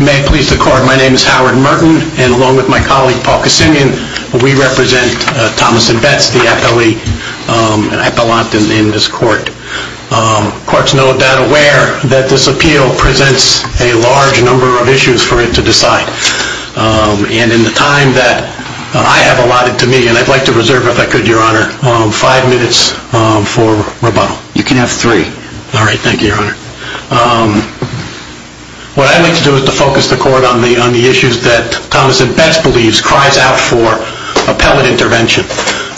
May it please the Court, my name is Howard Merton, and along with my colleague Paul Kassinian, we represent Thomas & Betts, the appellee and appellant in this court. Courts know that this appeal presents a large number of issues for it to decide, and in the time that I have allotted to me, and I'd like to reserve, if I could, Your Honor, five minutes for rebuttal. You can have three. All right, thank you, Your Honor. What I'd like to do is to focus the Court on the issues that Thomas & Betts believes cries out for appellate intervention.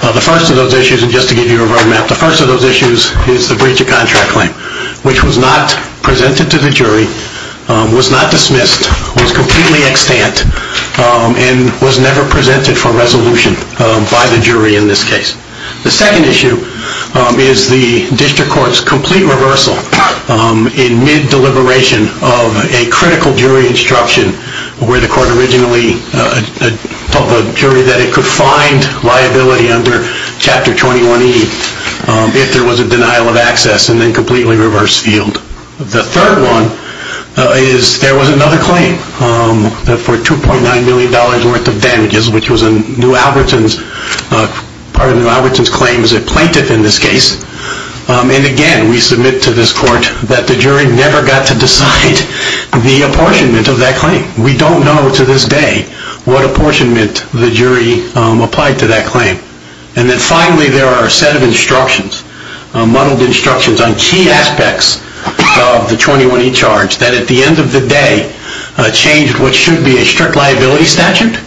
The first of those issues, and just to give you a roadmap, the first of those issues is the breach of contract claim, which was not presented to the jury, was not dismissed, was completely extant, and was never presented for resolution by the jury in this case. The second issue is the District Court's complete reversal in mid-deliberation of a critical jury instruction, where the Court originally told the jury that it could find liability under Chapter 21E if there was a denial of access, and then completely reversed field. The third one is there was another claim for $2.9 million worth of damages, which was in New Albertson's, part of New Albertson's claim as a plaintiff in this case, and again we submit to this Court that the jury never got to decide the apportionment of that claim. We don't know to this day what apportionment the jury applied to that claim. And then finally, there are a set of instructions, muddled instructions on key aspects of the 21E charge that at the end of the day changed what should be a strict liability statute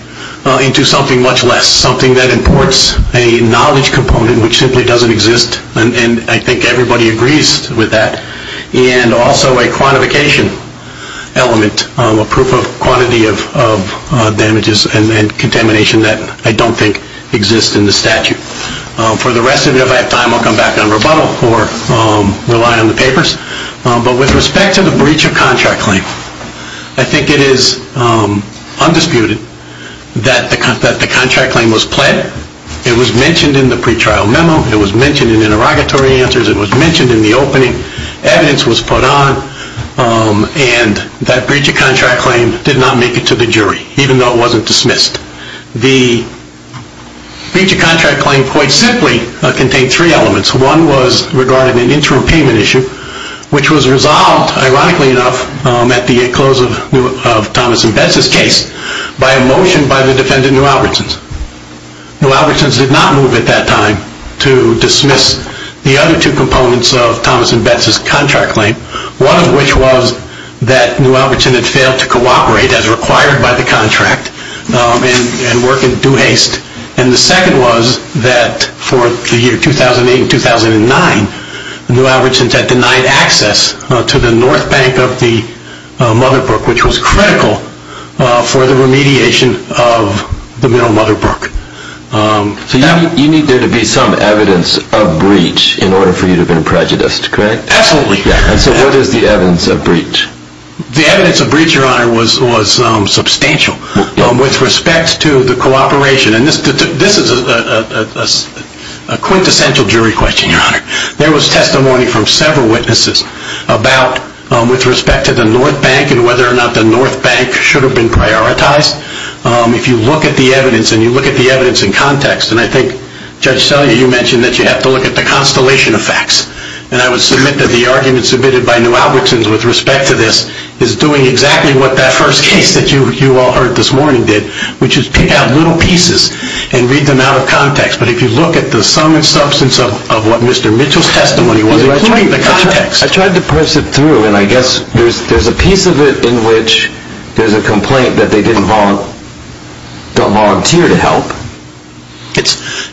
into something much less, something that imports a knowledge component which simply doesn't exist, and I think everybody agrees with that, and also a quantification element, a proof of quantity of damages and contamination that I don't think exists in the statute. For the rest of it, if I have time, I'll come back on rebuttal or rely on the papers, but with respect to the breach of contract claim, I think it is undisputed that the contract claim was pled, it was mentioned in the pretrial memo, it was mentioned in interrogatory answers, it was mentioned in the opening, evidence was put on, and that breach of contract claim did not make it to the jury, even though it wasn't dismissed. The breach of contract claim quite simply contained three elements. One was regarding an interim payment issue, which was resolved, ironically enough, at the close of Thomas and Bess's case, by a motion by the defendant, New Albertsons. New Albertsons did not move at that time to dismiss the other two components of Thomas and Bess's contract claim, one of which was that New Albertsons had failed to cooperate as required by the contract and work in due haste, and the second was that for the year 2008 and 2009, New Albertsons had denied access to the north bank of the Mother Brook, which was critical for the remediation of the Middle Mother Brook. So you need there to be some evidence of breach in order for you to have been prejudiced, correct? Absolutely. So what is the evidence of breach? The evidence of breach, your honor, was substantial. With respect to the cooperation, and this is a quintessential jury question, your honor, there was testimony from several witnesses about, with respect to the north bank and whether or not the north bank should have been prioritized. If you look at the evidence, and you look at the evidence in context, and I think Judge Selye, you mentioned that you have to look at the constellation of facts, and I would submit that the argument submitted by New Albertsons with respect to this is doing exactly what that first case that you all heard this morning did, which is pick out little pieces and read them out of context. But if you look at the sum and substance of what Mr. Mitchell's testimony was, including the context. I tried to push it through, and I guess there's a piece of it in which there's a complaint that they didn't volunteer to help.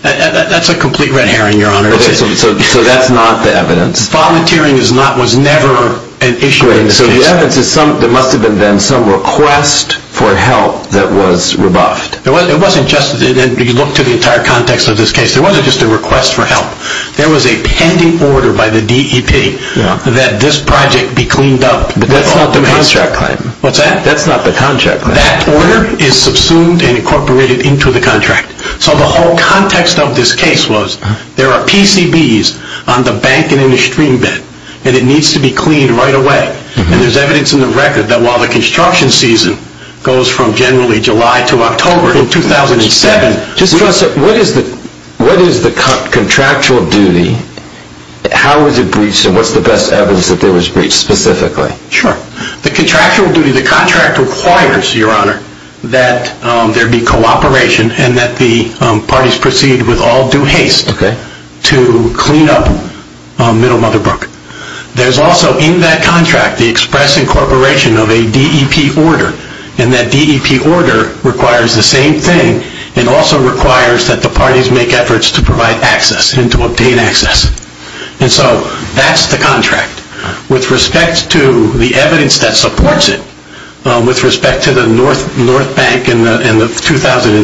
That's a complete red herring, your honor. So that's not the evidence. Volunteering was never an issue in this case. So the evidence is there must have been some request for help that was rebuffed. It wasn't just, and you look to the entire context of this case, there wasn't just a request for help. There was a pending order by the DEP that this project be cleaned up. That's not the contract claim. What's that? That's not the contract claim. That order is subsumed and incorporated into the contract. So the whole context of this case was there are PCBs on the bank and in the stream bed, and it needs to be cleaned right away. And there's evidence in the record that while the construction season goes from generally July to October in 2007, what is the contractual duty, how is it breached, and what's the best evidence that there was breached specifically? Sure. The contractual duty, the contract requires, your honor, that there be cooperation and that the parties proceed with all due haste to clean up Middle Mother Brook. There's also in that contract the express incorporation of a DEP order, and that DEP order requires the same thing. It also requires that the parties make efforts to provide access and to obtain access. And so that's the contract. With respect to the evidence that supports it, with respect to the North Bank and the 2007,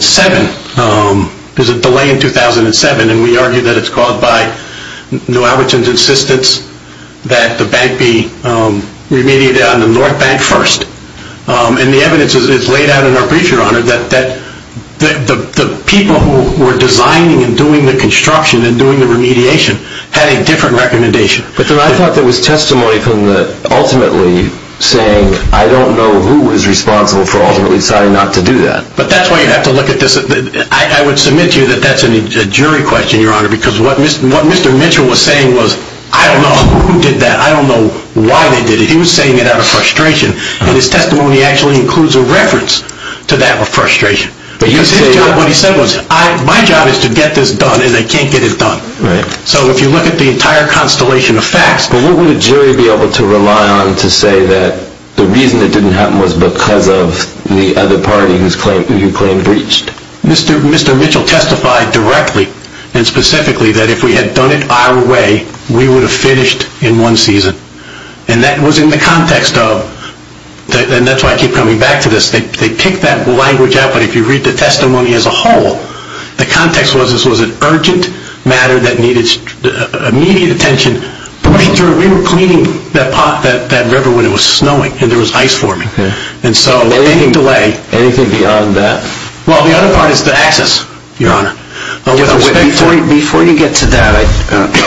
there's a delay in 2007, and we argue that it's caused by New Albertson's insistence that the bank be remediated on the North Bank first. And the evidence is laid out in our brief, your honor, that the people who were designing and doing the construction and doing the remediation had a different recommendation. But then I thought there was testimony from the ultimately saying, I don't know who was responsible for ultimately deciding not to do that. But that's why you have to look at this. I would submit to you that that's a jury question, your honor, because what Mr. Mitchell was saying was, I don't know who did that, I don't know why they did it. He was saying it out of frustration, and his testimony actually includes a reference to that frustration. Because his job, what he said was, my job is to get this done, and they can't get it done. Right. So if you look at the entire constellation of facts... But what would a jury be able to rely on to say that the reason it didn't happen was because of the other party who you claim breached? Mr. Mitchell testified directly and specifically that if we had done it our way, we would have finished in one season. And that was in the context of, and that's why I keep coming back to this, they picked that language out, but if you read the testimony as a whole, the context was this was an urgent matter that needed immediate attention, we were cleaning that river when it was snowing and there was ice forming. And so... Anything to weigh? Anything beyond that? Well, the other part is the access, Your Honor. Before you get to that,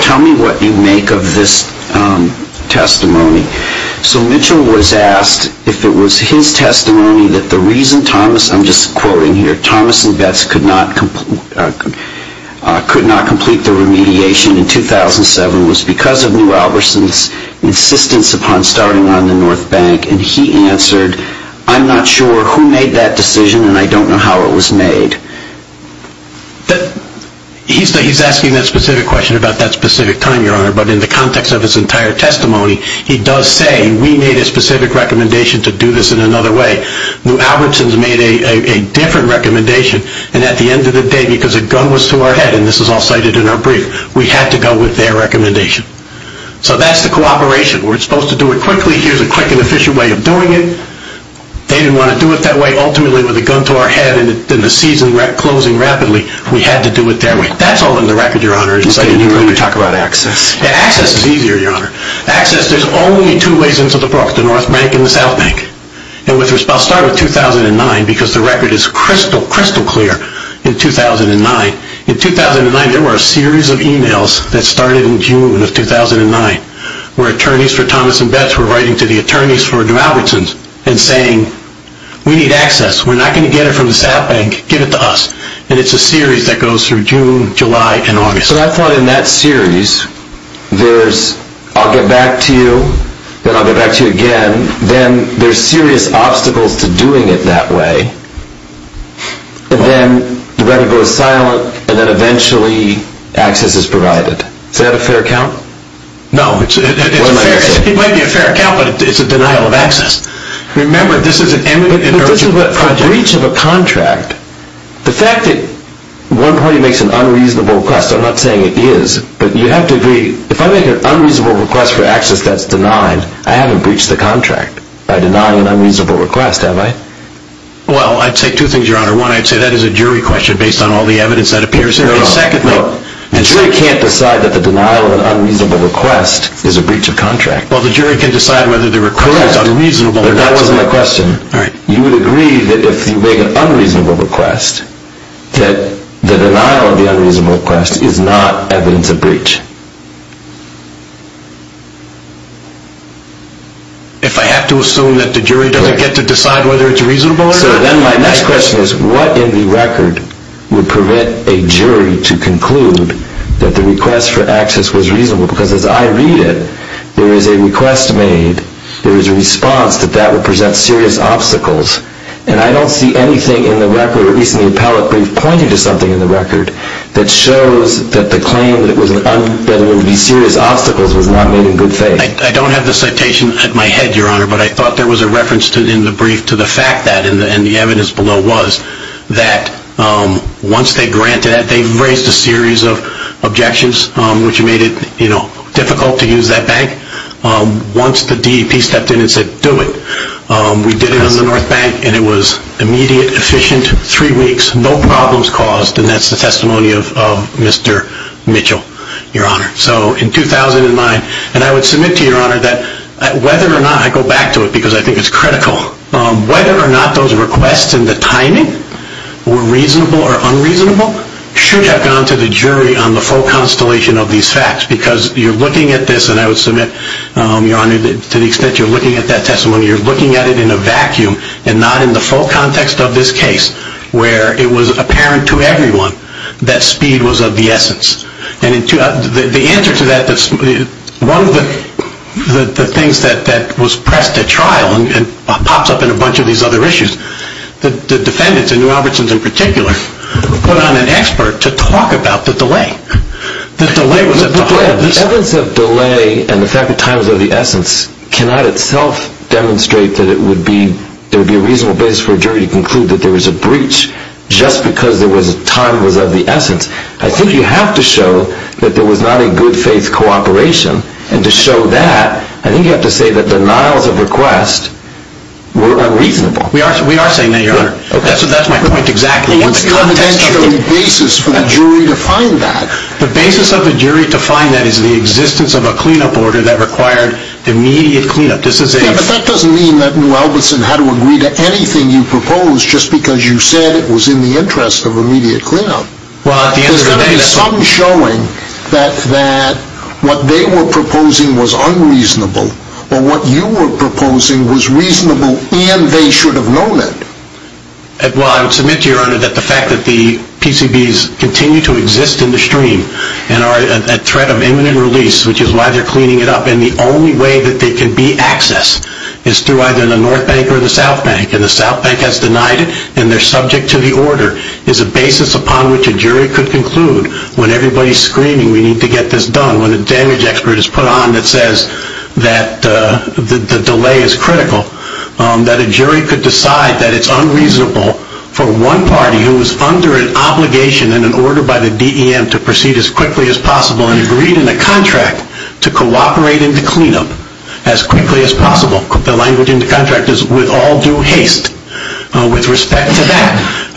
tell me what you make of this testimony. So Mitchell was asked if it was his testimony that the reason Thomas, I'm just quoting here, Thomas and Betts could not complete the remediation in 2007 was because of New Albertson's insistence upon starting on the North Bank and he answered, I'm not sure who made that decision and I don't know how it was made. He's asking that specific question about that specific time, Your Honor, but in the context of his entire testimony, he does say we made a specific recommendation to do this in another way. New Albertson's made a different recommendation and at the end of the day, because a gun was to our head, and this is all cited in our brief, we had to go with their recommendation. So that's the cooperation. We're supposed to do it quickly, here's a quick and efficient way of doing it. They didn't want to do it that way, ultimately with a gun to our head and the season closing rapidly, we had to do it their way. That's all in the record, Your Honor. Can you talk about access? Yeah, access is easier, Your Honor. Access, there's only two ways into the book, the North Bank and the South Bank. And I'll start with 2009 because the record is crystal, crystal clear in 2009. In 2009, there were a series of emails that started in June of 2009 where attorneys for Thomas and Betts were writing to the attorneys for New Albertson's and saying, we need access, we're not going to get it from the South Bank, give it to us. And it's a series that goes through June, July, and August. But I thought in that series, there's I'll get back to you, then I'll get back to you again, then there's serious obstacles to doing it that way. And then the record goes silent, and then eventually access is provided. Is that a fair count? No, it might be a fair count, but it's a denial of access. Remember, this is an eminent international project. But this is a breach of a contract. The fact that one party makes an unreasonable request, I'm not saying it is, but you have to agree, if I make an unreasonable request for access that's denied, I haven't breached the contract by denying an unreasonable request, have I? Well, I'd say two things, your honor. One, I'd say that is a jury question based on all the evidence that appears here. No, no, no. The jury can't decide that the denial of an unreasonable request is a breach of contract. Well, the jury can decide whether the request is unreasonable or not. But that wasn't the question. All right. You would agree that if you make an unreasonable request, that the denial of the unreasonable request is not evidence of breach? If I have to assume that the jury doesn't get to decide whether it's reasonable or not? So then my next question is, what in the record would prevent a jury to conclude that the request for access was reasonable? Because as I read it, there is a request made, there is a response that that would present serious obstacles. And I don't see anything in the record, at least in the appellate brief, pointing to something in the record that shows that the claim that it was an unreasonable request and that there would be serious obstacles was not made in good faith. I don't have the citation in my head, Your Honor, but I thought there was a reference in the brief to the fact that, and the evidence below was, that once they granted it, they raised a series of objections, which made it difficult to use that bank. Once the DEP stepped in and said, do it, we did it on the North Bank, and it was immediate, efficient, three weeks, no problems caused. And that's the testimony of Mr. Mitchell. Your Honor, so in 2009, and I would submit to Your Honor that whether or not, I go back to it because I think it's critical, whether or not those requests and the timing were reasonable or unreasonable should have gone to the jury on the full constellation of these facts, because you're looking at this, and I would submit, Your Honor, to the extent you're looking at that testimony, you're looking at it in a vacuum and not in the full context of this case, where it was apparent to everyone that speed was of the essence. And the answer to that, one of the things that was pressed at trial and pops up in a bunch of these other issues, the defendants, and New Albertsons in particular, put on an expert to talk about the delay. The delay was at the heart of this. The evidence of delay and the fact that time was of the essence cannot itself demonstrate that it would be, there would be a reasonable basis for a jury to conclude that there was I think you have to show that there was not a good faith cooperation, and to show that, I think you have to say that denials of request were unreasonable. We are saying that, Your Honor. So that's my point exactly. What's the evidential basis for the jury to find that? The basis of the jury to find that is the existence of a cleanup order that required immediate cleanup. Yeah, but that doesn't mean that New Albertson had to agree to anything you proposed just because you said it was in the interest of immediate cleanup. There's got to be some showing that what they were proposing was unreasonable or what you were proposing was reasonable and they should have known it. Well, I would submit to you, Your Honor, that the fact that the PCBs continue to exist in the stream and are a threat of imminent release, which is why they're cleaning it up, and the only way that they can be accessed is through either the North Bank or the South Bank, and the South Bank has denied it, and they're subject to the order, is a basis upon which a jury could conclude, when everybody's screaming, we need to get this done, when a damage expert is put on that says that the delay is critical, that a jury could decide that it's unreasonable for one party who is under an obligation and an order by the DEM to proceed as quickly as possible and agreed in a contract to cooperate in the cleanup as quickly as possible. The language in the contract is with all due haste. With respect to that,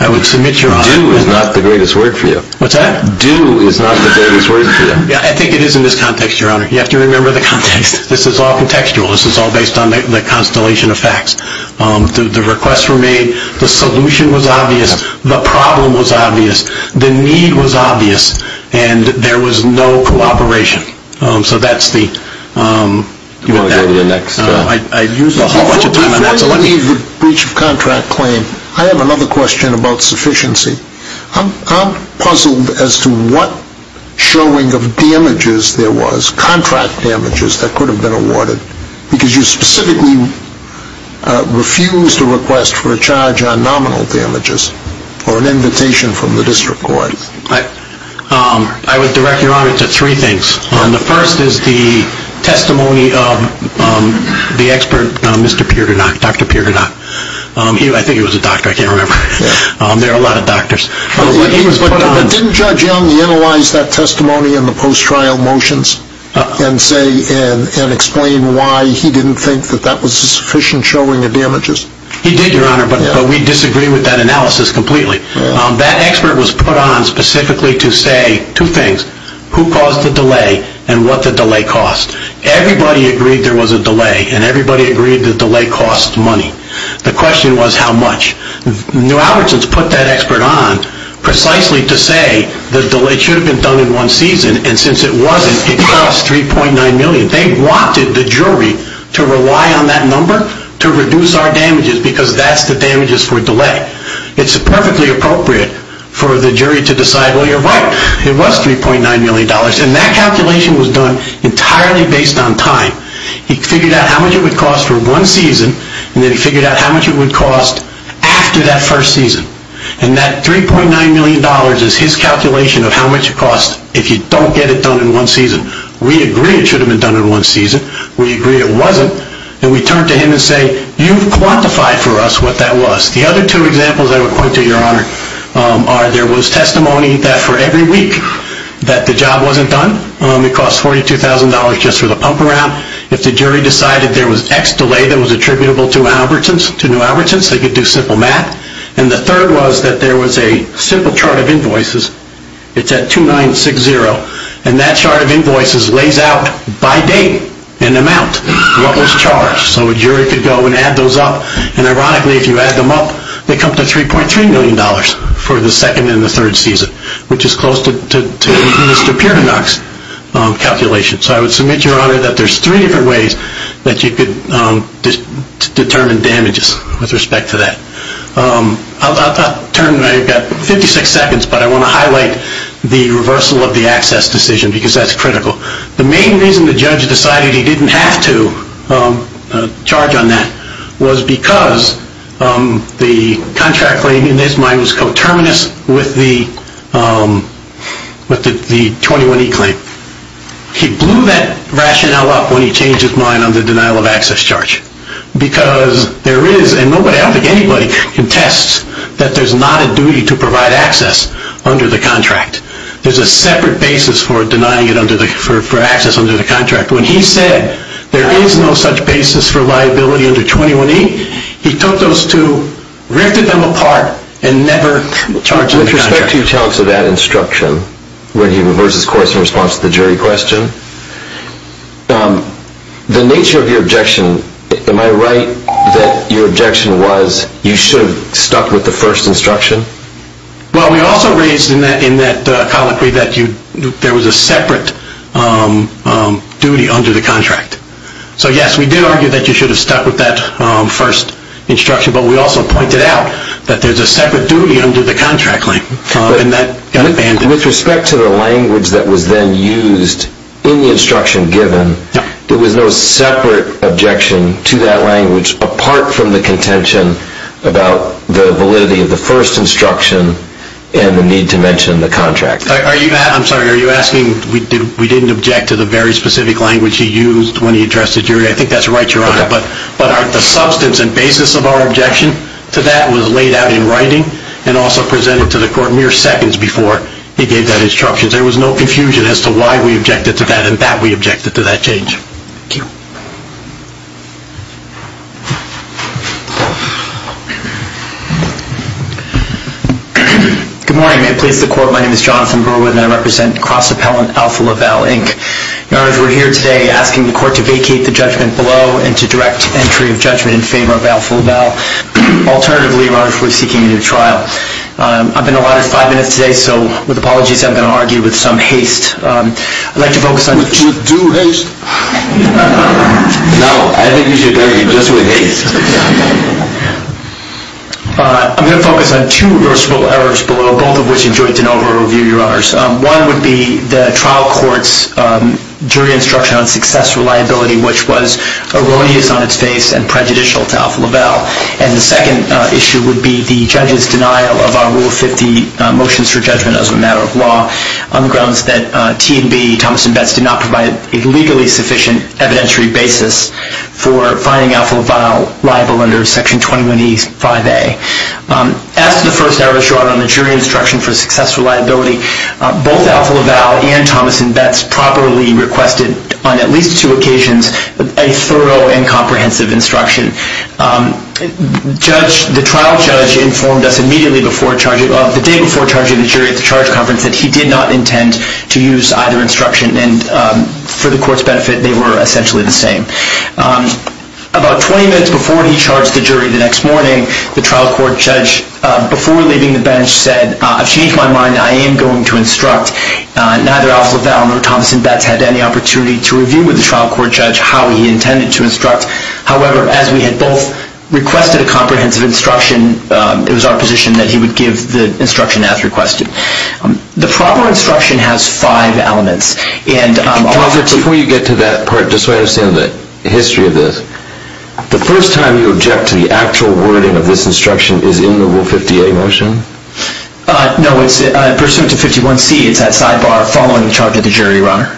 I would submit, Your Honor... Do is not the greatest word for you. What's that? Do is not the greatest word for you. Yeah, I think it is in this context, Your Honor. You have to remember the context. This is all contextual. This is all based on the constellation of facts. The requests were made, the solution was obvious, the problem was obvious, the need was obvious, and there was no cooperation. So that's the... Do you want to go to the next... Before you leave the breach of contract claim, I have another question about sufficiency. I'm puzzled as to what showing of damages there was, contract damages, that could have been awarded, because you specifically refused a request for a charge on nominal damages or an invitation from the district court. I would direct Your Honor to three things. The first is the testimony of the expert, Mr. Peerdernock, Dr. Peerdernock. I think he was a doctor, I can't remember. There are a lot of doctors. But didn't Judge Young analyze that testimony in the post-trial motions and explain why he didn't think that that was a sufficient showing of damages? He did, Your Honor, but we disagree with that analysis completely. That expert was put on specifically to say two things, who caused the delay and what the delay cost. Everybody agreed there was a delay, and everybody agreed the delay cost money. The question was how much. New Albertson's put that expert on precisely to say the delay should have been done in one season, and since it wasn't, it cost $3.9 million. They wanted the jury to rely on that number to reduce our damages, because that's the damages for delay. It's perfectly appropriate for the jury to decide, well, you're right, it was $3.9 million. And that calculation was done entirely based on time. He figured out how much it would cost for one season, and then he figured out how much it would cost after that first season. And that $3.9 million is his calculation of how much it costs if you don't get it done in one season. We agree it should have been done in one season. We agree it wasn't. And we turn to him and say, you've quantified for us what that was. The other two examples I would point to, Your Honor, are there was testimony that for every week that the job wasn't done. It cost $42,000 just for the pump around. If the jury decided there was X delay that was attributable to New Albertson's, they could do simple math. And the third was that there was a simple chart of invoices. It's at 2960. And that chart of invoices lays out by date and amount what was charged. So a jury could go and add those up. And ironically, if you add them up, they come to $3.3 million for the second and the third season, which is close to Mr. Pierdonock's calculation. So I would submit, Your Honor, that there's three different ways that you could determine damages with respect to that. I've got 56 seconds, but I want to highlight the reversal of the access decision because that's critical. The main reason the judge decided he didn't have to charge on that was because the contract claim in his mind was coterminous with the 21E claim. He blew that rationale up when he changed his mind on the denial of access charge because there is, and nobody, I don't think anybody, contests that there's not a duty to provide access under the contract. There's a separate basis for denying it under the, for access under the contract. When he said there is no such basis for liability under 21E, he took those two, rifted them apart, and never charged under the contract. With respect to your challenge to that instruction, when he reversed his course in response to the jury question, the nature of your objection, am I right that your objection was you should have stuck with the first instruction? Well, we also raised in that colloquy that there was a separate duty under the contract. So, yes, we did argue that you should have stuck with that first instruction, but we also pointed out that there's a separate duty under the contract claim. With respect to the language that was then used in the instruction given, there was no separate objection to that language apart from the contention about the validity of the first instruction and the need to mention the contract. Are you, I'm sorry, are you asking we didn't object to the very specific language he used when he addressed the jury? I think that's right, Your Honor. Okay. But the substance and basis of our objection to that was laid out in writing and also presented to the court mere seconds before he gave that instruction. There was no confusion as to why we objected to that and that we objected to that change. Thank you. Good morning. May it please the court, my name is Jonathan Berwood and I represent Cross Appellant Alpha LaValle, Inc. Your Honor, we're here today asking the court to vacate the judgment below and to direct entry of judgment in favor of Alpha LaValle. Alternatively, Your Honor, if we're seeking a new trial. I've been allotted five minutes today, so with apologies, I'm going to argue with some haste. I'd like to focus on... With due haste? No, I think you should argue just with haste. I'm going to focus on two reversible errors below, both of which enjoyed de novo review, Your Honors. One would be the trial court's jury instruction on success reliability, which was erroneous on its face and prejudicial to Alpha LaValle. And the second issue would be the judge's denial of our Rule 50 motions for judgment as a matter of law on the grounds that T&B, Thomas & Betts, did not provide a legally sufficient evidentiary basis for finding Alpha LaValle liable under Section 21E5A. As to the first error, Your Honor, on the jury instruction for successful reliability, both Alpha LaValle and Thomas & Betts properly requested, on at least two occasions, a thorough and comprehensive instruction. The trial judge informed us immediately the day before charging the jury at the charge that they were essentially the same. About 20 minutes before he charged the jury the next morning, the trial court judge, before leaving the bench, said, I've changed my mind. I am going to instruct. Neither Alpha LaValle nor Thomas & Betts had any opportunity to review with the trial court judge how he intended to instruct. However, as we had both requested a comprehensive instruction, it was our position that he would give the instruction as requested. The proper instruction has five elements. Thomas, before you get to that part, just so I understand the history of this, the first time you object to the actual wording of this instruction is in the Rule 50A motion? No, it's pursuant to 51C. It's that sidebar following the charge of the jury, Your Honor.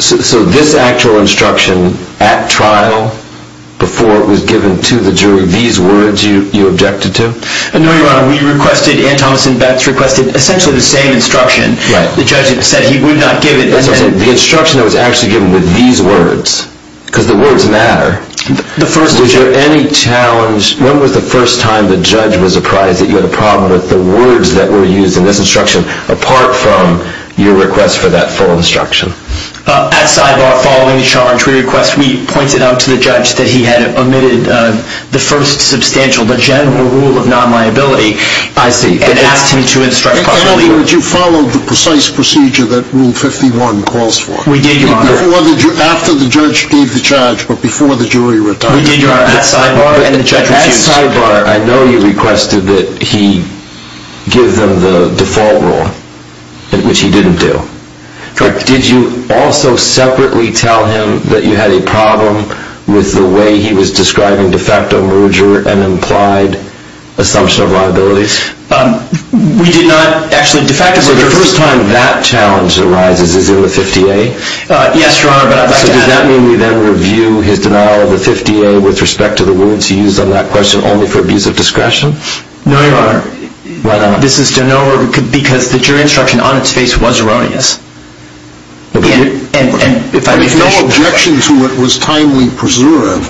So this actual instruction at trial, before it was given to the jury, these words you objected to? No, Your Honor. We requested, and Thomas & Betts requested, essentially the same instruction. The judge said he would not give it. The instruction that was actually given with these words, because the words matter, was there any challenge? When was the first time the judge was surprised that you had a problem with the words that were used in this instruction apart from your request for that full instruction? At sidebar following the charge, we requested, we pointed out to the judge that he had omitted the first substantial, the general rule of non-liability. I see. And asked him to instruct properly. You followed the precise procedure that Rule 51 calls for. We did, Your Honor. After the judge gave the charge, but before the jury retired. We did, Your Honor. At sidebar, I know you requested that he give them the default rule, which he didn't do. Correct. Did you also separately tell him that you had a problem with the way he was describing de facto merger and implied assumption of liabilities? We did not actually de facto merger. So the first time that challenge arises, is in the 50A? Yes, Your Honor. So does that mean we then review his denial of the 50A with respect to the words he used on that question only for abuse of discretion? No, Your Honor. Why not? This is to know, because the jury instruction on its face was erroneous. And if I may finish. But if no objection to it was timely preserved,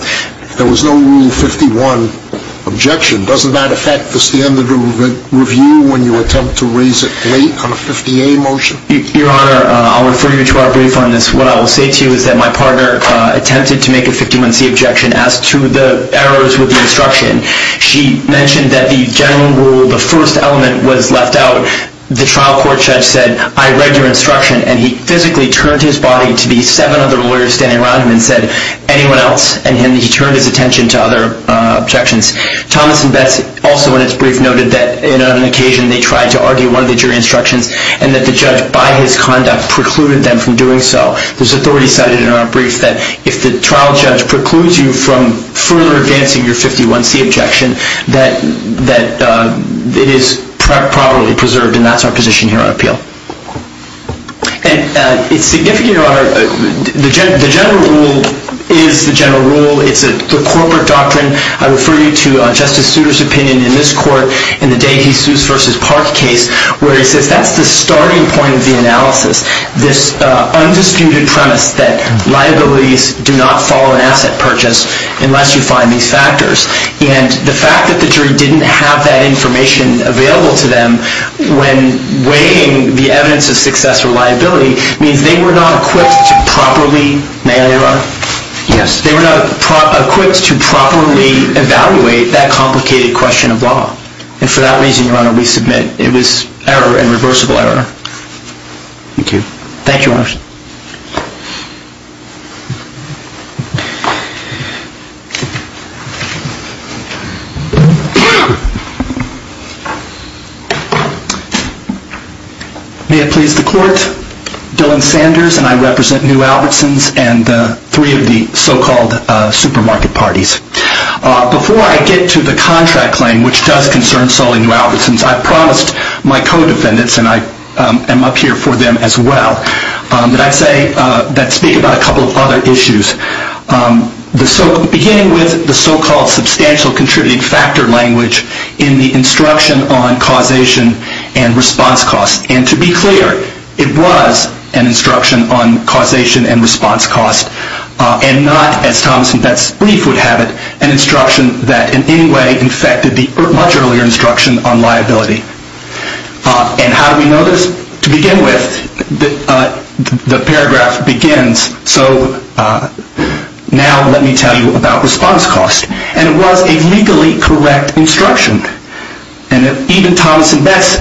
there was no Rule 51 objection, doesn't that affect the standard of review when you attempt to raise it late on a 50A motion? Your Honor, I'll refer you to our brief on this. What I will say to you is that my partner attempted to make a 51C objection as to the errors with the instruction. She mentioned that the general rule, the first element was left out. The trial court judge said, I read your instruction. And he physically turned his body to these seven other lawyers standing around him and said, anyone else? And he turned his attention to other objections. Thomas and Betts also in its brief noted that in an occasion they tried to argue one of the jury instructions and that the judge, by his conduct, precluded them from doing so. There's authority cited in our brief that if the trial judge precludes you from further advancing your 51C objection, that it is properly preserved. And that's our position here on appeal. And it's significant, Your Honor, the general rule is the general rule. It's the corporate doctrine. I refer you to Justice Souter's opinion in this court in the De Jesus v. Park case where he says that's the starting point of the analysis. This undisputed premise that liabilities do not follow an asset purchase unless you find these factors. And the fact that the jury didn't have that information available to them when weighing the evidence of success or liability means they were not equipped to properly, may I Your Honor? Yes. They were not equipped to properly evaluate that complicated question of law. And for that reason, Your Honor, we submit it was error and reversible error. Thank you. Thank you, Your Honor. May it please the court, Dylan Sanders and I represent New Albertsons and three of the so-called supermarket parties. Before I get to the contract claim, which does concern solely New Albertsons, I promised my co-defendants and I am up here for them as well. But I'd say, let's speak about a couple of other issues. Beginning with the so-called substantial contributing factor language in the instruction on causation and response cost. And to be clear, it was an instruction on causation and response cost. And not, as Thomas and Beth's brief would have it, an instruction that in any way infected the much earlier instruction on liability. And how do we know this? Well, to begin with, the paragraph begins, so now let me tell you about response cost. And it was a legally correct instruction. And even Thomas and Beth's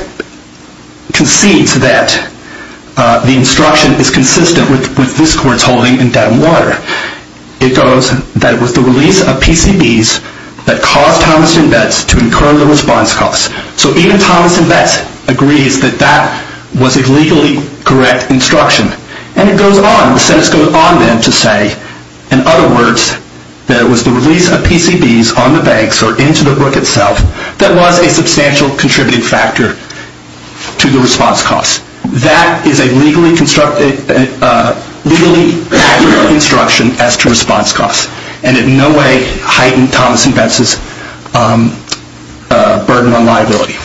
concedes that the instruction is consistent with this court's holding in Dedham Water. It goes that it was the release of PCBs that caused Thomas and Beth's to incur the response cost. So even Thomas and Beth's agrees that that was a legally correct instruction. And it goes on, the sentence goes on then to say, in other words, that it was the release of PCBs on the banks or into the book itself that was a substantial contributing factor to the response cost. That is a legally constructed, legally accurate instruction as to response cost. And in no way heightened Thomas and Beth's burden on liability.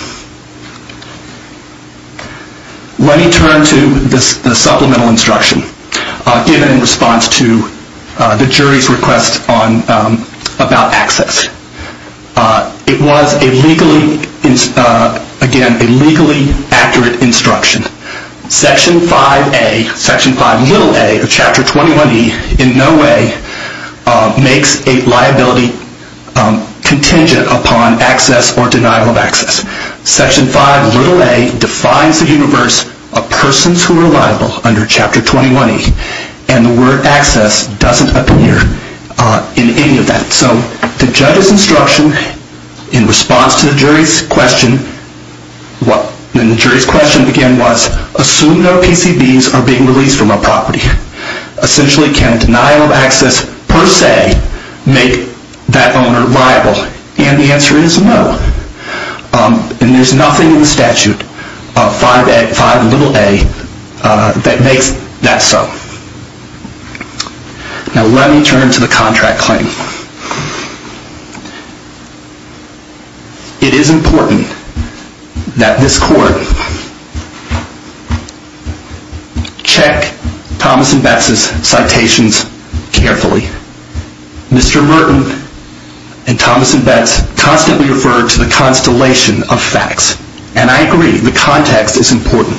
Let me turn to the supplemental instruction given in response to the jury's request about access. It was a legally, again, a legally accurate instruction. Section 5a, Section 5a of Chapter 21e in no way makes a liability contingent upon access or denial of access. Section 5a defines the universe of persons who are liable under Chapter 21e. And the word access doesn't appear in any of that. So the judge's instruction in response to the jury's question, and the jury's question again was, assume no PCBs are being released from a property. Essentially can denial of access per se make that owner liable? And the answer is no. And there's nothing in the statute, 5a, that makes that so. Now let me turn to the contract claim. It is important that this court check Thomas and Beth's citations carefully. Mr. Merton and Thomas and Beth constantly refer to the constellation of facts. And I agree, the context is important.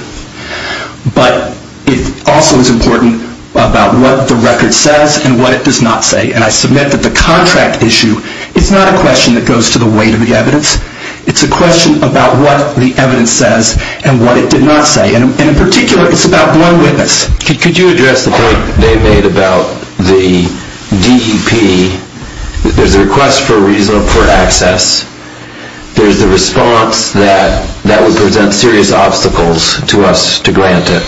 But it also is important about what the record says and what it does not say. And I submit that the contract issue is not a question that goes to the weight of the evidence. It's a question about what the evidence says and what it did not say. And in particular, it's about one witness. Could you address the point they made about the DEP? There's a request for access. There's the response that that would present serious obstacles to us to grant it.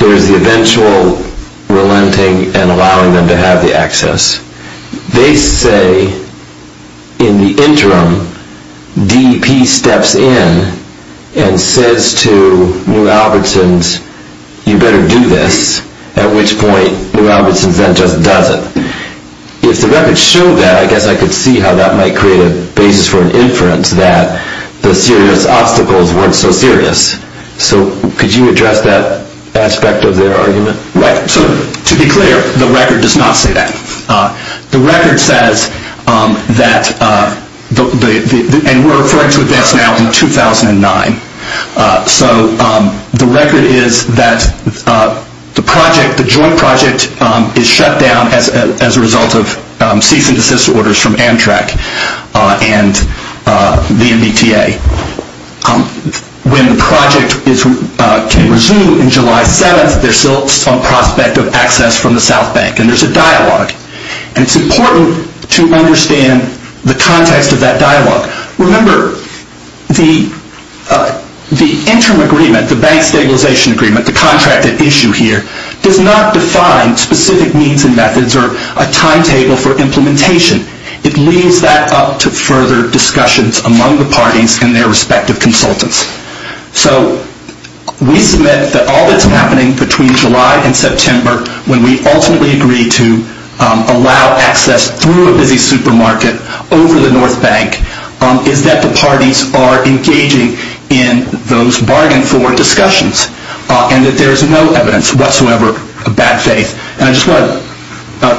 There's the eventual relenting and allowing them to have the access. They say, in the interim, DEP steps in and says to New Albertsons, you better do this, at which point New Albertsons then just doesn't. If the record showed that, I guess I could see how that might create a basis for an inference that the serious obstacles weren't so serious. So could you address that aspect of their argument? Right. So to be clear, the record does not say that. The record says that, and we're referring to events now from 2009. So the record is that the joint project is shut down as a result of cease and desist orders from Amtrak and the MBTA. When the project can resume in July 7th, there's still some prospect of access from the South Bank, and there's a dialogue, and it's important to understand the context of that dialogue. Remember, the interim agreement, the bank stabilization agreement, the contract at issue here, does not define specific means and methods or a timetable for implementation. It leaves that up to further discussions among the parties and their respective consultants. So we submit that all that's happening between July and September, when we ultimately agree to allow access through a busy supermarket over the North Bank, is that the parties are engaging in those bargain-forward discussions, and that there is no evidence whatsoever of bad faith. And I just want to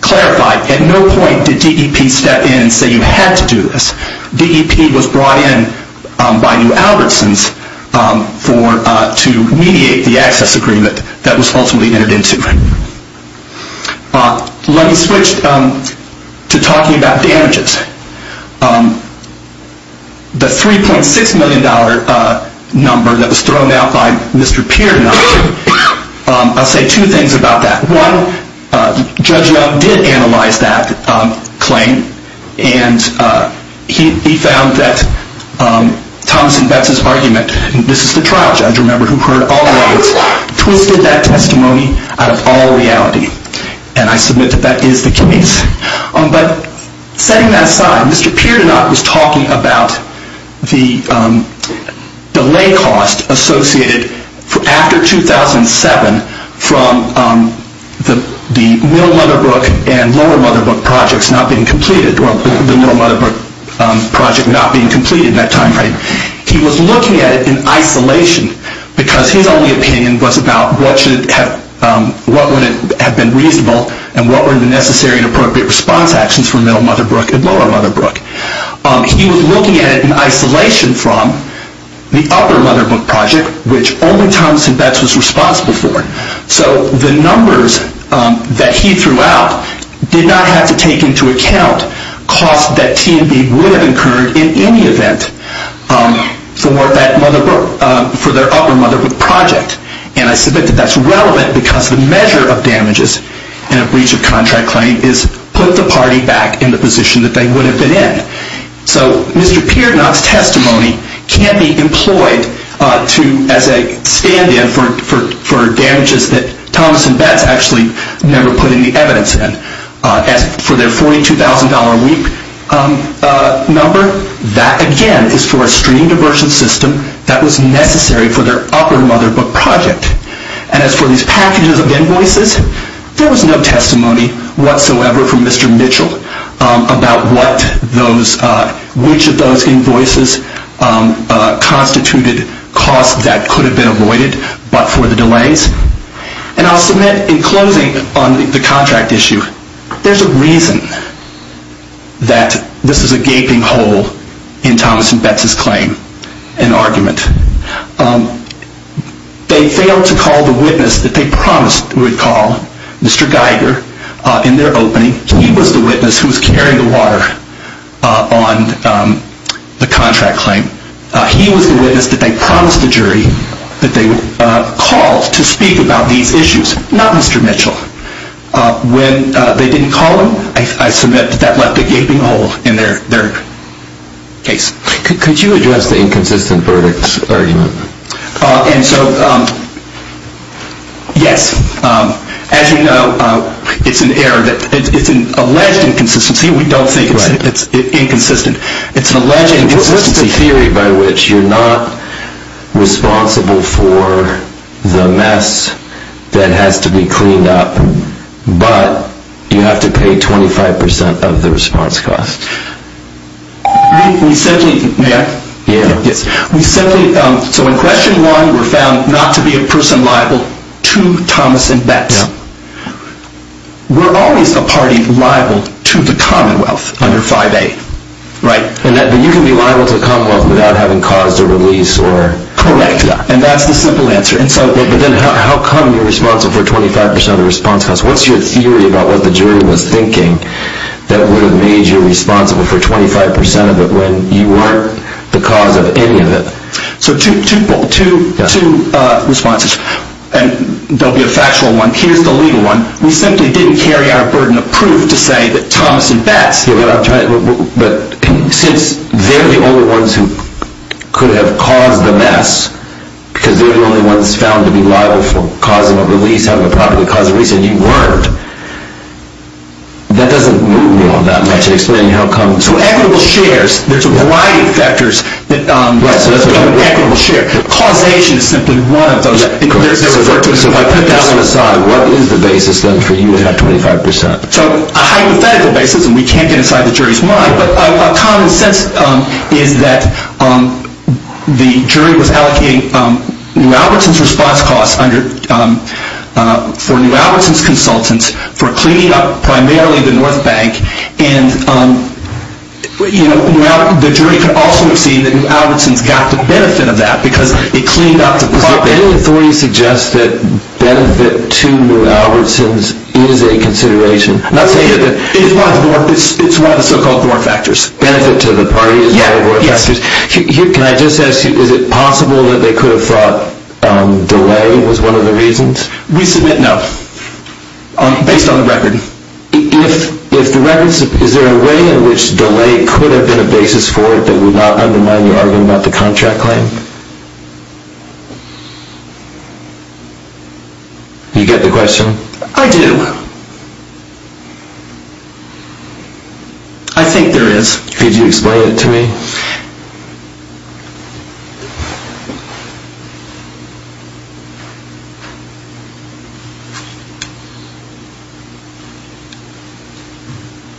clarify, at no point did DEP step in and say you had to do this. DEP was brought in by New Albertsons to mediate the access agreement that was ultimately entered into. Let me switch to talking about damages. The $3.6 million number that was thrown out by Mr. Piernot, I'll say two things about that. One, Judge Young did analyze that claim, and he found that Thomas and Betts' argument, and this is the trial judge, remember, who heard all of it, twisted that testimony out of all reality. And I submit that that is the case. But setting that aside, Mr. Piernot was talking about the delay cost associated after 2007 from the Mill-Motherbrook and Lower-Motherbrook projects not being completed, or the Mill-Motherbrook project not being completed at that time. He was looking at it in isolation, because his only opinion was about what would have been reasonable and what were the necessary and appropriate response actions for Mill-Motherbrook and Lower-Motherbrook. He was looking at it in isolation from the Upper-Motherbrook project, which only Thomas and Betts was responsible for. So the numbers that he threw out did not have to take into account costs that T&B would have incurred in any event for their Upper-Motherbrook project. And I submit that that's relevant because the measure of damages in a breach of contract claim is put the party back in the position that they would have been in. So Mr. Piernot's testimony can be employed as a stand-in for damages that Thomas and Betts actually never put any evidence in. As for their $42,000 a week number, that again is for a stream diversion system that was necessary for their Upper-Motherbrook project. And as for these packages of invoices, there was no testimony whatsoever from Mr. Mitchell about which of those invoices constituted costs that could have been avoided but for the delays. And I'll submit in closing on the contract issue, there's a reason that this is a gaping hole in Thomas and Betts' claim and argument. They failed to call the witness that they promised they would call, Mr. Geiger, in their opening. He was the witness who was carrying the water on the contract claim. He was the witness that they promised the jury that they would call to speak about these issues, not Mr. Mitchell. When they didn't call him, I submit that that left a gaping hole in their case. Could you address the inconsistent verdicts argument? And so, yes. As you know, it's an alleged inconsistency. We don't think it's inconsistent. It's an alleged inconsistency. What's the theory by which you're not responsible for the mess that has to be cleaned up, but you have to pay 25% of the response cost? We simply... So in Question 1, we're found not to be a person liable to Thomas and Betts. We're always a party liable to the Commonwealth under 5A, right? But you can be liable to the Commonwealth without having caused a release or... Correct. And that's the simple answer. But then how come you're responsible for 25% of the response cost? What's your theory about what the jury was thinking that would have made you responsible for 25% of it when you weren't the cause of any of it? So two responses, and they'll be a factual one. Here's the legal one. We simply didn't carry out a burden of proof to say that Thomas and Betts... But since they're the only ones who could have caused the mess, because they're the only ones found to be liable for causing a release, having a property that caused a release, and you weren't, that doesn't move me on that much in explaining how come... So equitable shares, there's a variety of factors that... Equitable share. Causation is simply one of those. So if I put that one aside, what is the basis then for you to have 25%? So a hypothetical basis, and we can't get inside the jury's mind, but a common sense is that the jury was allocating New Albertson's response costs for New Albertson's consultants for cleaning up primarily the North Bank, and the jury could also have seen that New Albertson's got the benefit of that, because it cleaned up the property... Does any authority suggest that benefit to New Albertson's is a consideration? I'm not saying that... It's one of the so-called war factors. Benefit to the party is one of the war factors? Yes. Can I just ask you, is it possible that they could have thought delay was one of the reasons? We submit no, based on the record. If the record... Is there a way in which delay could have been a basis for it that would not undermine your argument about the contract claim? You get the question? I do. I think there is. Could you explain it to me?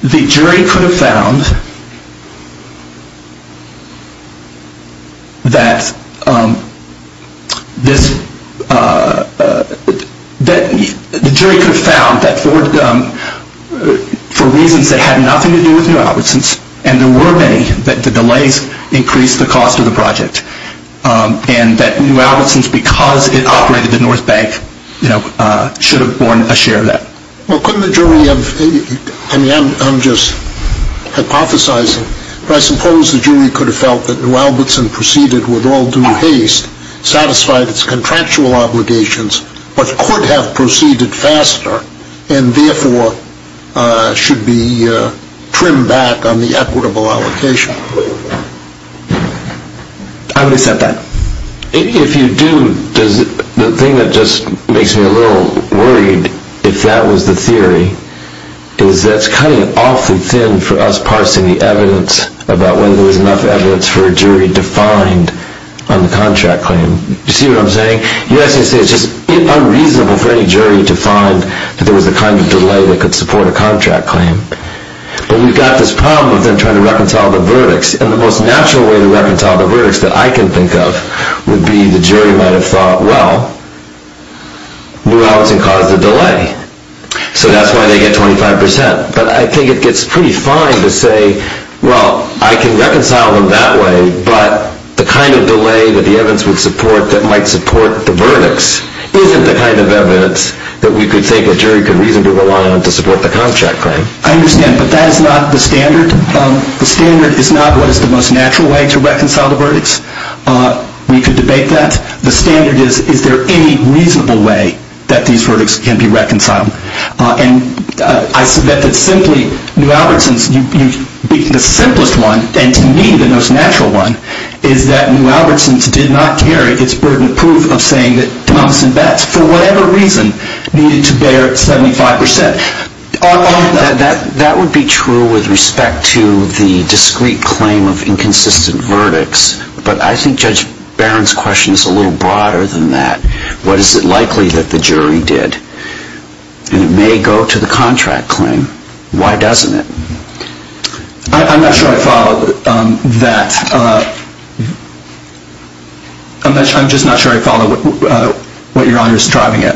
The jury could have found that for reasons that had nothing to do with New Albertson's, and there were many, that the delays increased the cost of the project, and that New Albertson's, because it operated the North Bank, should have borne a share of that. Well, couldn't the jury have... I mean, I'm just hypothesizing, but I suppose the jury could have felt that New Albertson proceeded with all due haste, satisfied its contractual obligations, but could have proceeded faster, and therefore should be trimmed back on the equitable allocation. I would accept that. If you do, the thing that just makes me a little worried, if that was the theory, is that it's kind of awfully thin for us parsing the evidence about whether there was enough evidence for a jury to find on the contract claim. You see what I'm saying? Yes, it's just unreasonable for any jury to find that there was a kind of delay that could support a contract claim. But we've got this problem with them trying to reconcile the verdicts, and the most natural way to reconcile the verdicts that I can think of would be the jury might have thought, well, New Albertson caused a delay, so that's why they get 25%. But I think it gets pretty fine to say, well, I can reconcile them that way, but the kind of delay that the evidence would support that might support the verdicts isn't the kind of evidence that we could think a jury could reasonably rely on to support the contract claim. I understand, but that is not the standard. The standard is not what is the most natural way to reconcile the verdicts. We could debate that. The standard is, is there any reasonable way that these verdicts can be reconciled? And I submit that simply, New Albertson's, the simplest one, and to me the most natural one, is that New Albertson's did not carry its burden of proof of saying that Thomas and Betts, for whatever reason, needed to bear 75%. That would be true with respect to the discrete claim of inconsistent verdicts, but I think Judge Barron's question is a little broader than that. What is it likely that the jury did? And it may go to the contract claim. Why doesn't it? I'm not sure I follow that. I'm just not sure I follow what Your Honor is driving at.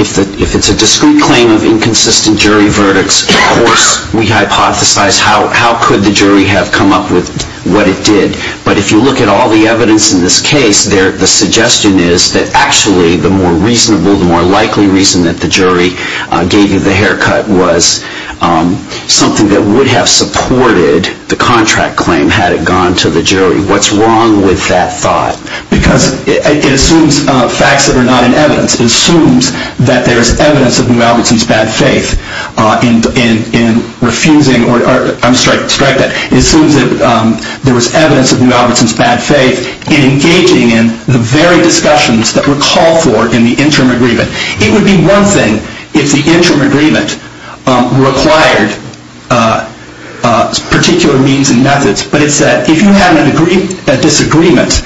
If it's a discrete claim of inconsistent jury verdicts, of course we hypothesize how could the jury have come up with what it did. But if you look at all the evidence in this case, the suggestion is that actually the more reasonable, the more likely reason that the jury gave you the haircut was something that would have supported the contract claim had it gone to the jury. What's wrong with that thought? Because it assumes facts that are not in evidence. It assumes that there is evidence of New Albertson's bad faith in engaging in the very discussions that were called for in the interim agreement. It would be one thing if the interim agreement required particular means and methods, but it's that if you have a disagreement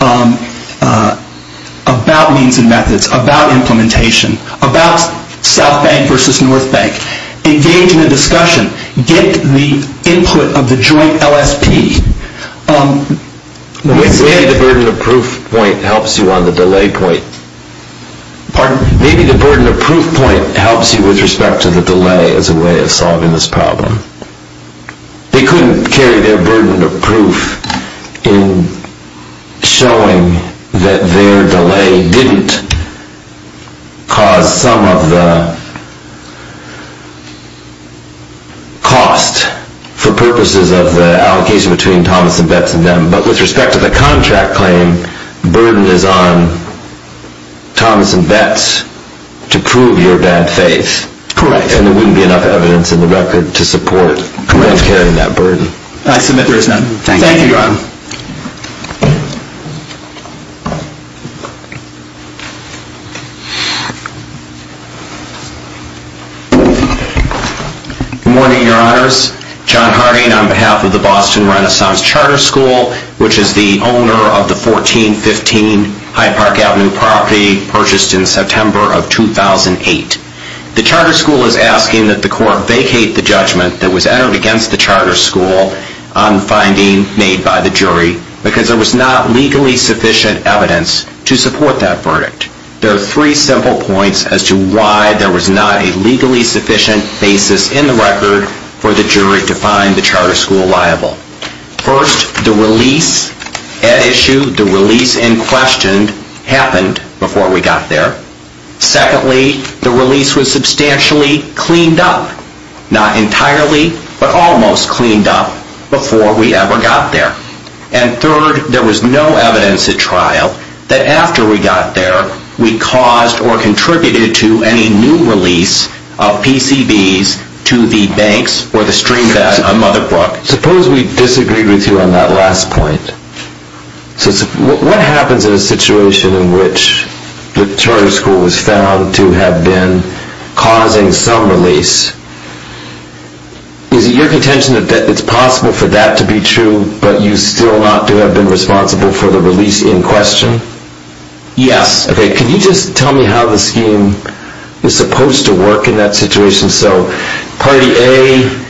about means and methods, about implementation, about South Bank versus North Bank, engage in a discussion, get the input of the joint LSP. Maybe the burden of proof point helps you on the delay point. Maybe the burden of proof point helps you with respect to the delay as a way of solving this problem. They couldn't carry their burden of proof in showing that their delay didn't cause some of the cost for purposes of the allocation between Thomas and Betts and them. But with respect to the contract claim, burden is on Thomas and Betts to prove your bad faith. Correct. And there wouldn't be enough evidence in the record to support them carrying that burden. I submit there is none. Thank you. Thank you, Ron. Good morning, Your Honors. John Harding on behalf of the Boston Renaissance Charter School, which is the owner of the 1415 High Park Avenue property purchased in September of 2008. The charter school is asking that the court vacate the judgment that was entered against the charter school on the finding made by the jury because there was not legally sufficient evidence to support that verdict. There are three simple points as to why there was not a legally sufficient basis in the record for the jury to find the charter school liable. First, the release at issue, the release in question, happened before we got there. Secondly, the release was substantially cleaned up, not entirely but almost cleaned up, before we ever got there. And third, there was no evidence at trial that after we got there we caused or contributed to any new release of PCBs to the banks or the stream bank on Mother Brook. Suppose we disagreed with you on that last point. What happens in a situation in which the charter school was found to have been causing some release? Is it your contention that it's possible for that to be true but you still have not been responsible for the release in question? Yes. Can you just tell me how the scheme is supposed to work in that situation? So party A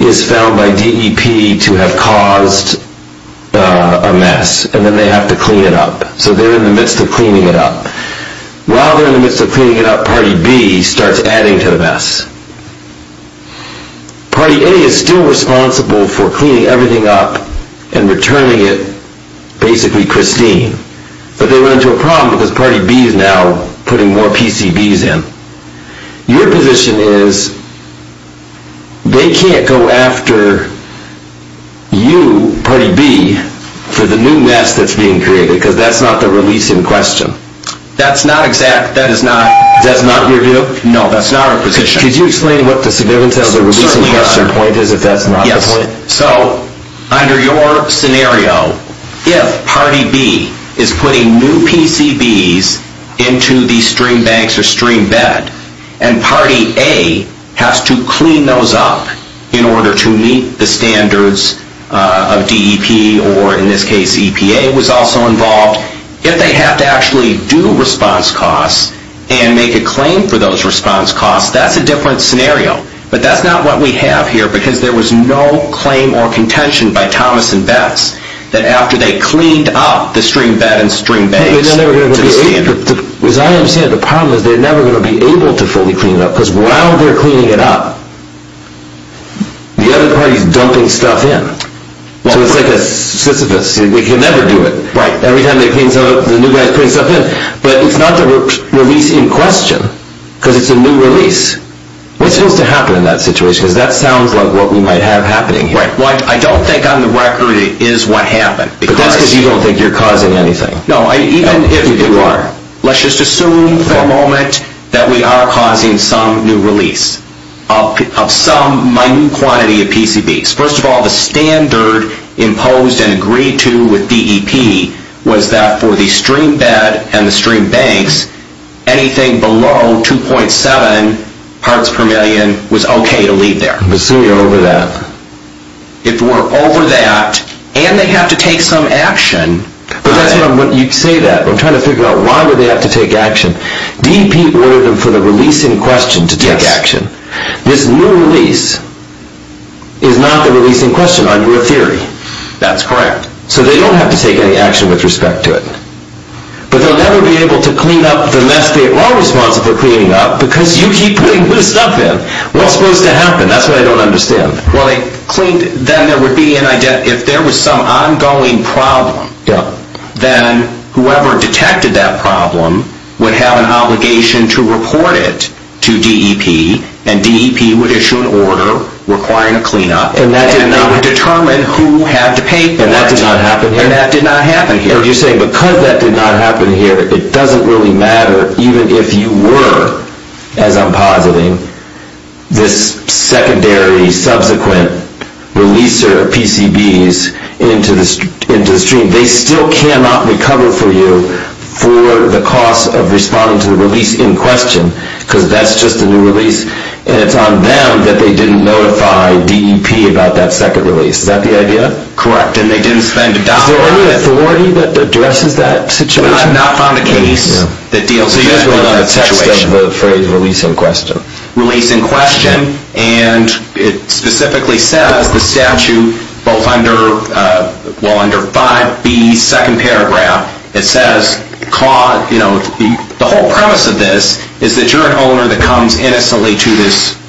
is found by DEP to have caused a mess and then they have to clean it up. So they're in the midst of cleaning it up. While they're in the midst of cleaning it up, party B starts adding to the mess. Party A is still responsible for cleaning everything up and returning it basically pristine. But they run into a problem because party B is now putting more PCBs in. Your position is they can't go after you, party B, for the new mess that's being created because that's not the release in question. That's not exact. That is not. That's not your view? No, that's not our position. Could you explain what the significance of the release in question point is if that's not the point? So under your scenario, if party B is putting new PCBs into the stream banks or stream bed and party A has to clean those up in order to meet the standards of DEP or in this case EPA was also involved, if they have to actually do response costs and make a claim for those response costs, that's a different scenario. But that's not what we have here because there was no claim or contention by Thomas and Betts that after they cleaned up the stream bed and stream banks to the standard. As I understand it, the problem is they're never going to be able to fully clean it up because while they're cleaning it up, the other party is dumping stuff in. So it's like a Sisyphus. They can never do it. Right. Every time they clean something up, the new guy is putting stuff in. But it's not the release in question because it's a new release. What's supposed to happen in that situation? Because that sounds like what we might have happening here. Right. I don't think on the record it is what happened. But that's because you don't think you're causing anything. No, even if you are. Let's just assume for a moment that we are causing some new release of some minute quantity of PCBs. First of all, the standard imposed and agreed to with DEP was that for the stream bed and the stream banks, anything below 2.7 parts per million was okay to leave there. Let's assume you're over that. If we're over that, and they have to take some action... But that's not what you say that. I'm trying to figure out why would they have to take action. DEP ordered them for the release in question to take action. Yes. This new release is not the release in question under a theory. That's correct. So they don't have to take any action with respect to it. But they'll never be able to clean up the mess they are responsible for cleaning up, because you keep putting new stuff in. What's supposed to happen? That's what I don't understand. Well, they cleaned... then there would be an... if there was some ongoing problem, then whoever detected that problem would have an obligation to report it to DEP, and DEP would issue an order requiring a cleanup. And that did not... And they would determine who had to pay for it. And that did not happen here. And that did not happen here. And you're saying because that did not happen here, it doesn't really matter even if you were, as I'm positing, this secondary subsequent releaser of PCBs into the stream. They still cannot recover for you for the cost of responding to the release in question, because that's just a new release, and it's on them that they didn't notify DEP about that second release. Is that the idea? Correct. And they didn't spend a dime on it. Is there any authority that addresses that situation? I have not found a case that deals with that situation. So you guys wrote down the text of the phrase release in question. Release in question. And it specifically says, the statute, both under... well, under 5B, second paragraph, it says, you know, the whole premise of this is that you're an owner that comes innocently to this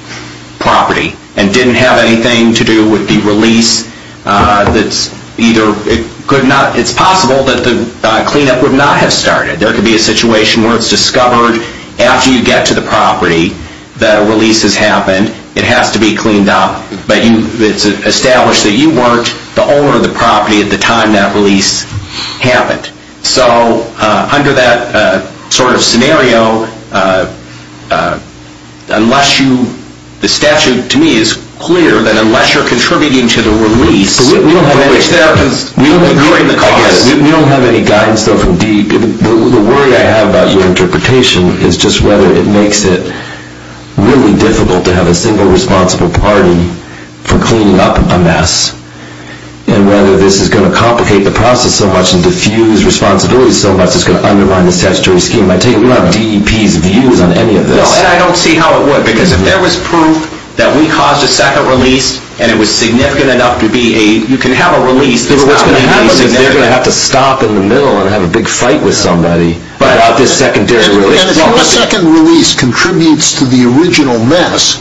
property and didn't have anything to do with the release that's either... It's possible that the cleanup would not have started. There could be a situation where it's discovered after you get to the property that a release has happened. It has to be cleaned up. But it's established that you weren't the owner of the property at the time that release happened. So under that sort of scenario, unless you... The statute, to me, is clear that unless you're contributing to the release... But we don't have any guidance, though, from DEEP. The worry I have about your interpretation is just whether it makes it really difficult to have a single responsible party for cleaning up a mess and whether this is going to complicate the process so much and diffuse responsibilities so much it's going to undermine the statutory scheme. I take it we don't have DEEP's views on any of this. No, and I don't see how it would. Because if there was proof that we caused a second release and it was significant enough to be a... you can have a release... But what's going to happen is they're going to have to stop in the middle and have a big fight with somebody about this secondary release. And if your second release contributes to the original mess,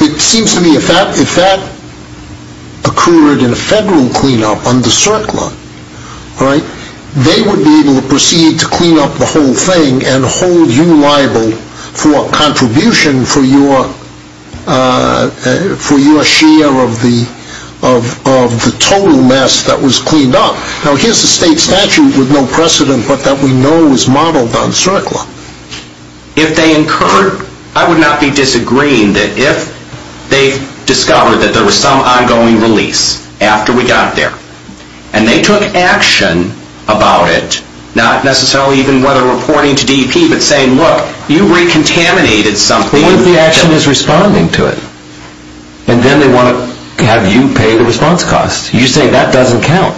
it seems to me if that occurred in a federal cleanup under CERCLA, they would be able to proceed to clean up the whole thing and hold you liable for contribution for your share of the total mess that was cleaned up. Now, here's a state statute with no precedent but that we know is modeled on CERCLA. If they incurred... I would not be disagreeing that if they discovered that there was some ongoing release after we got there and they took action about it, not necessarily even whether reporting to DEEP but saying, look, you recontaminated something... What if the action is responding to it? And then they want to have you pay the response cost. You're saying that doesn't count.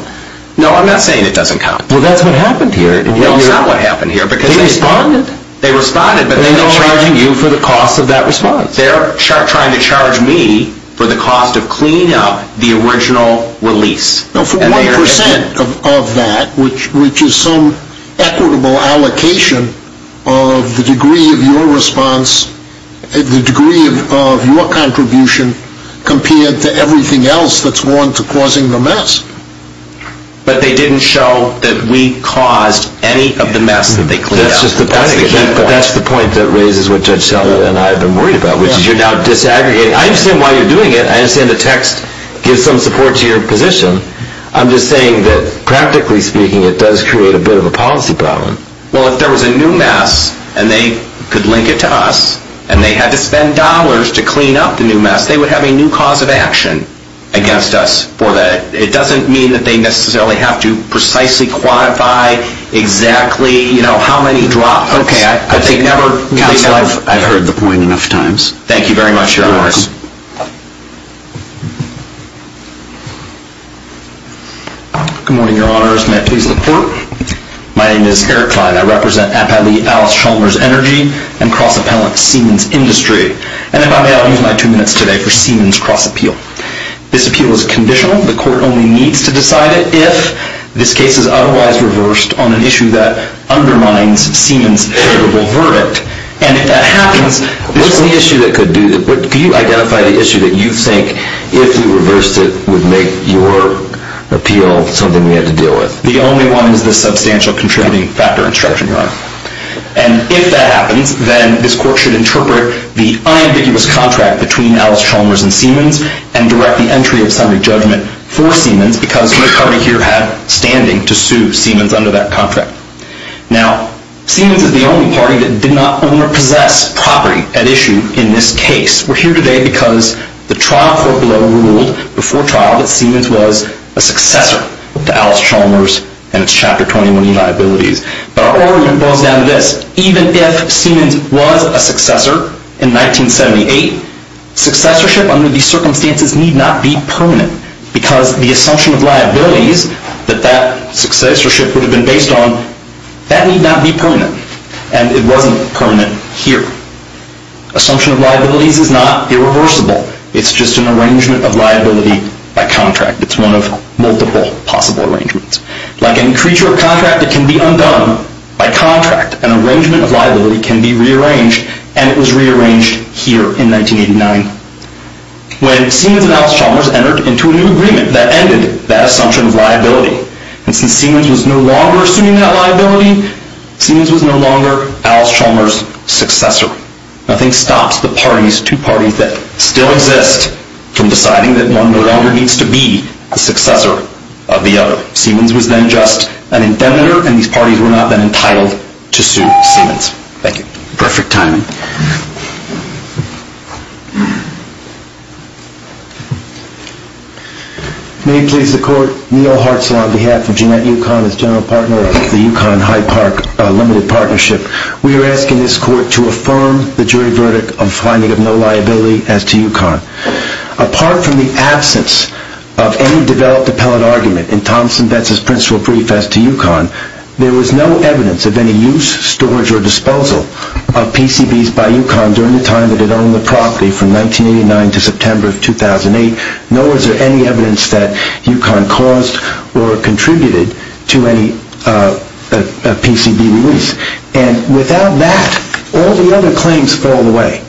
No, I'm not saying it doesn't count. Well, that's what happened here. They responded. They responded, but they're not charging you for the cost of that response. They're trying to charge me for the cost of cleanup, the original release. No, for 1% of that, which is some equitable allocation of the degree of your response, the degree of your contribution, compared to everything else that's worn to causing the mess. But they didn't show that we caused any of the mess that they cleaned up. That's just the point. That's the key point. But that's the point that raises what Judge Seller and I have been worried about, which is you're now disaggregating. I understand why you're doing it. I understand the text gives some support to your position. I'm just saying that, practically speaking, it does create a bit of a policy problem. Well, if there was a new mess and they could link it to us and they had to spend dollars to clean up the new mess, they would have a new cause of action against us for that. It doesn't mean that they necessarily have to precisely quantify exactly how many drops. Okay. I've heard the point enough times. Thank you very much, Your Honors. You're welcome. Good morning, Your Honors. May I please look forward? My name is Eric Klein. I represent Appellee Alice Schulner's Energy and Cross-Appellant Siemens Industry. And if I may, I'll use my two minutes today for Siemens Cross-Appeal. This appeal is conditional. The court only needs to decide it if this case is otherwise reversed on an issue that undermines Siemens' credible verdict. And if that happens… What's the issue that could do that? Can you identify the issue that you think, if you reversed it, would make your appeal something we had to deal with? The only one is the substantial contributing factor instruction, Your Honor. And if that happens, then this court should interpret the unambiguous contract between Alice Schulner's and Siemens' and direct the entry of some judgment for Siemens' because no party here had standing to sue Siemens under that contract. Now, Siemens is the only party that did not own or possess property at issue in this case. We're here today because the trial court below ruled before trial that Siemens was a successor to Alice Schulner's and its Chapter 21 liabilities. But our argument boils down to this. Even if Siemens was a successor in 1978, successorship under these circumstances need not be permanent because the assumption of liabilities that that successorship would have been based on, that need not be permanent. And it wasn't permanent here. Assumption of liabilities is not irreversible. It's just an arrangement of liability by contract. It's one of multiple possible arrangements. Like any creature of contract, it can be undone by contract. An arrangement of liability can be rearranged, and it was rearranged here in 1989 when Siemens and Alice Schulner's entered into a new agreement that ended that assumption of liability. And since Siemens was no longer assuming that liability, Siemens was no longer Alice Schulner's successor. Nothing stops the parties, two parties that still exist, from deciding that one no longer needs to be the successor of the other. Siemens was then just an indebter, and these parties were not then entitled to sue Siemens. Thank you. Perfect timing. May it please the Court. Neil Hartzell on behalf of Jeanette Yukon as General Partner of the Yukon-Hyde Park Limited Partnership. We are asking this Court to affirm the jury verdict of finding of no liability as to Yukon. Apart from the absence of any developed appellate argument in Thompson Betz's principal preface to Yukon, there was no evidence of any use, storage, or disposal of PCBs by Yukon during the time that it owned the property from 1989 to September of 2008. Nor is there any evidence that Yukon caused or contributed to any PCB release. And without that, all the other claims fall away.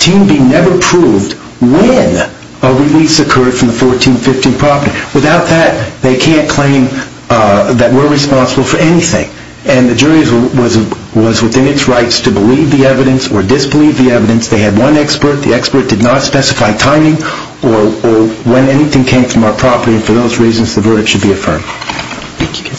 Team B never proved when a release occurred from the 1415 property. Without that, they can't claim that we're responsible for anything. And the jury was within its rights to believe the evidence or disbelieve the evidence. They had one expert. The expert did not specify timing or when anything came from our property. And for those reasons, the verdict should be affirmed. Thank you.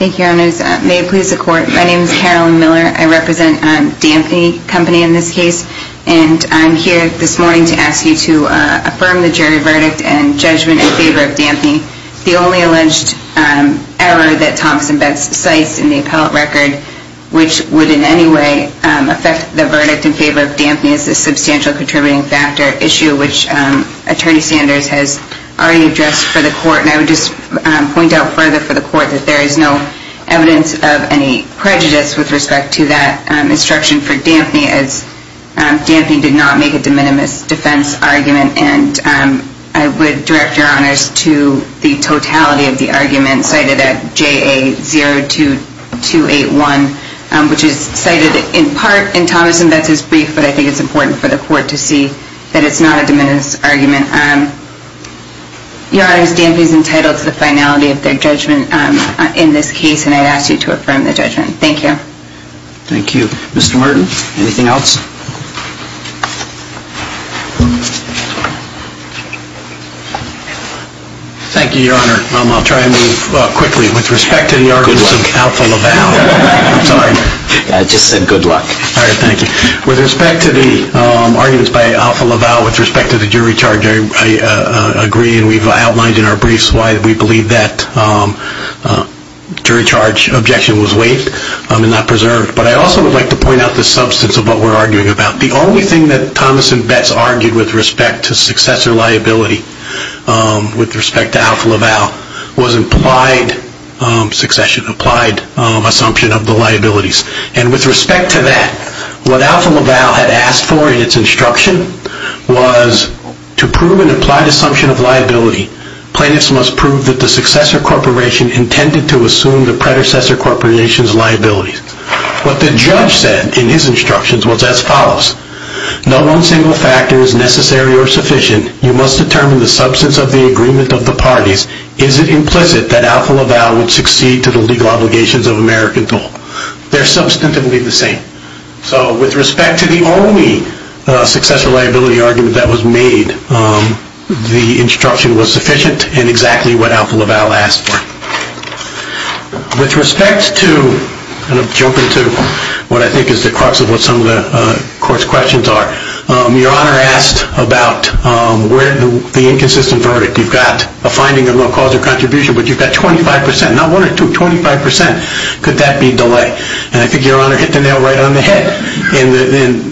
Thank you, Your Honors. May it please the Court, my name is Carolyn Miller. I represent Dampney Company in this case. And I'm here this morning to ask you to affirm the jury verdict and judgment in favor of Dampney. The only alleged error that Thompson-Betts cites in the appellate record, which would in any way affect the verdict in favor of Dampney, is the substantial contributing factor issue, which Attorney Sanders has already addressed for the Court. And I would just point out further for the Court that there is no evidence of any prejudice with respect to that instruction for Dampney, as Dampney did not make a de minimis defense argument. And I would direct Your Honors to the totality of the argument cited at JA02281, which is cited in part in Thompson-Betts' brief, but I think it's important for the Court to see that it's not a de minimis argument. Your Honors, Dampney is entitled to the finality of their judgment in this case, and I'd ask you to affirm the judgment. Thank you. Thank you. Mr. Martin, anything else? Thank you, Your Honor. I'll try and move quickly. With respect to the arguments of Alpha LaValle. Good luck. Sorry. I just said good luck. All right. Thank you. With respect to the arguments by Alpha LaValle with respect to the jury charge, I agree, and we've outlined in our briefs why we believe that jury charge objection was waived and not preserved. But I also would like to point out the substance of what we're arguing about. The only thing that Thomas and Betts argued with respect to successor liability with respect to Alpha LaValle was implied succession, applied assumption of the liabilities. And with respect to that, what Alpha LaValle had asked for in its instruction was to prove an implied assumption of liability, plaintiffs must prove that the successor corporation intended to assume the predecessor corporation's liability. What the judge said in his instructions was as follows. No one single factor is necessary or sufficient. You must determine the substance of the agreement of the parties. Is it implicit that Alpha LaValle would succeed to the legal obligations of American Dole? They're substantively the same. So with respect to the only successor liability argument that was made, the instruction was sufficient in exactly what Alpha LaValle asked for. With respect to, and I'll jump into what I think is the crux of what some of the court's questions are. Your Honor asked about the inconsistent verdict. You've got a finding of no cause of contribution, but you've got 25%, not one or two, 25%. Could that be delay? And I think Your Honor hit the nail right on the head. And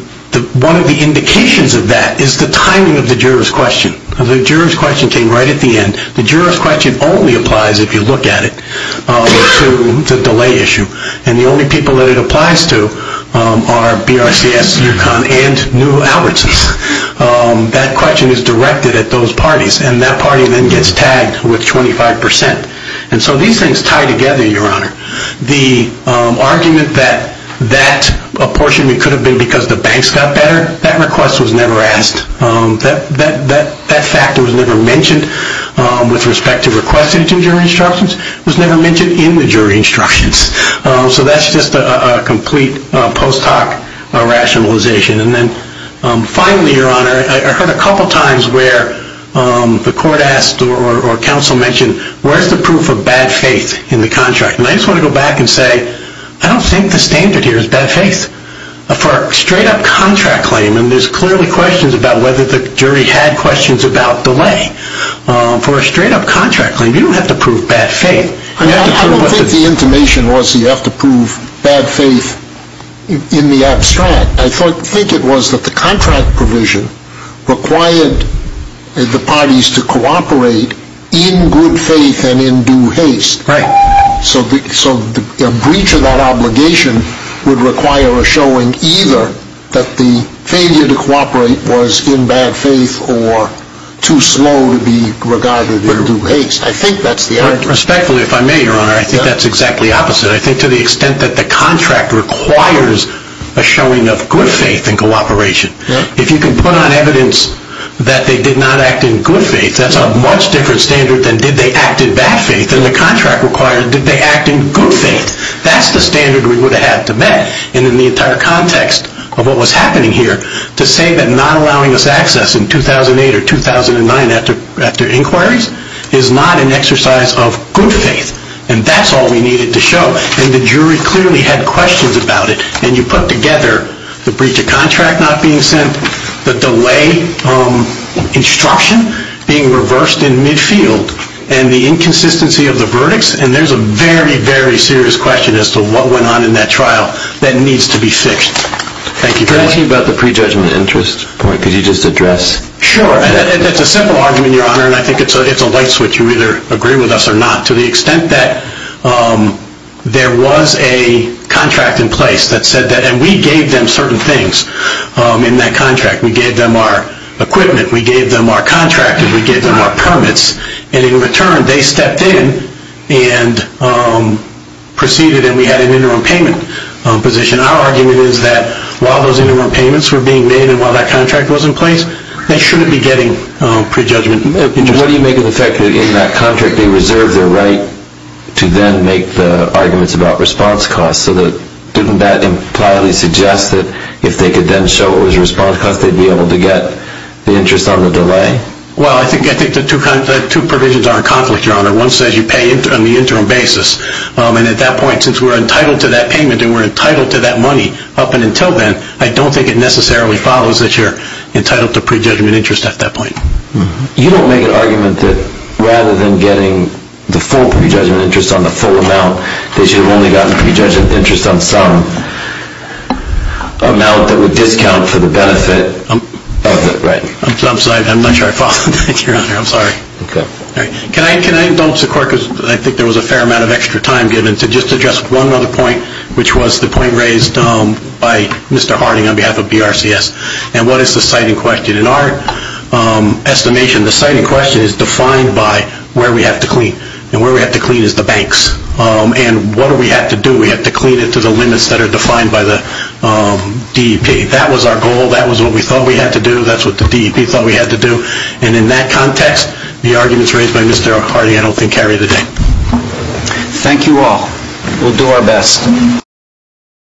one of the indications of that is the timing of the juror's question. The juror's question came right at the end. The juror's question only applies, if you look at it, to the delay issue. And the only people that it applies to are BRCS, UConn, and Newell Albertsons. That question is directed at those parties, and that party then gets tagged with 25%. And so these things tie together, Your Honor. The argument that that apportionment could have been because the banks got better, that request was never asked. That factor was never mentioned with respect to requesting jury instructions. It was never mentioned in the jury instructions. So that's just a complete post hoc rationalization. And then finally, Your Honor, I heard a couple times where the court asked or counsel mentioned, where's the proof of bad faith in the contract? And I just want to go back and say, I don't think the standard here is bad faith. For a straight up contract claim, and there's clearly questions about whether the jury had questions about delay. For a straight up contract claim, you don't have to prove bad faith. I don't think the intimation was you have to prove bad faith in the abstract. I think it was that the contract provision required the parties to cooperate in good faith and in due haste. Right. So the breach of that obligation would require a showing either that the failure to cooperate was in bad faith or too slow to be regarded in due haste. I think that's the argument. Respectfully, if I may, Your Honor, I think that's exactly opposite. I think to the extent that the contract requires a showing of good faith in cooperation. If you can put on evidence that they did not act in good faith, that's a much different standard than did they act in bad faith. If the contract required that they act in good faith, that's the standard we would have had to met. And in the entire context of what was happening here, to say that not allowing us access in 2008 or 2009 after inquiries is not an exercise of good faith. And that's all we needed to show. And the jury clearly had questions about it. And you put together the breach of contract not being sent, the delay instruction being reversed in midfield, and the inconsistency of the verdicts. And there's a very, very serious question as to what went on in that trial that needs to be fixed. Thank you very much. Can I ask you about the prejudgment interest point? Could you just address that? Sure. That's a simple argument, Your Honor, and I think it's a light switch. To the extent that there was a contract in place that said that, and we gave them certain things in that contract. We gave them our equipment, we gave them our contract, and we gave them our permits. And in return, they stepped in and proceeded, and we had an interim payment position. Our argument is that while those interim payments were being made and while that contract was in place, they shouldn't be getting prejudgment interest. And what do you make of the fact that in that contract they reserved their right to then make the arguments about response costs? So didn't that impliedly suggest that if they could then show it was response costs, they'd be able to get the interest on the delay? Well, I think the two provisions are in conflict, Your Honor. One says you pay on the interim basis. And at that point, since we're entitled to that payment and we're entitled to that money up and until then, I don't think it necessarily follows that you're entitled to prejudgment interest at that point. You don't make an argument that rather than getting the full prejudgment interest on the full amount, they should have only gotten prejudgment interest on some amount that would discount for the benefit of the right? I'm sorry. I'm not sure I followed. Thank you, Your Honor. I'm sorry. Okay. Can I indulge the court because I think there was a fair amount of extra time given to just address one other point, which was the point raised by Mr. Harding on behalf of BRCS. And what is the citing question? In our estimation, the citing question is defined by where we have to clean. And where we have to clean is the banks. And what do we have to do? We have to clean it to the limits that are defined by the DEP. That was our goal. That was what we thought we had to do. That's what the DEP thought we had to do. And in that context, the arguments raised by Mr. Harding I don't think carry the day. Thank you all. We'll do our best.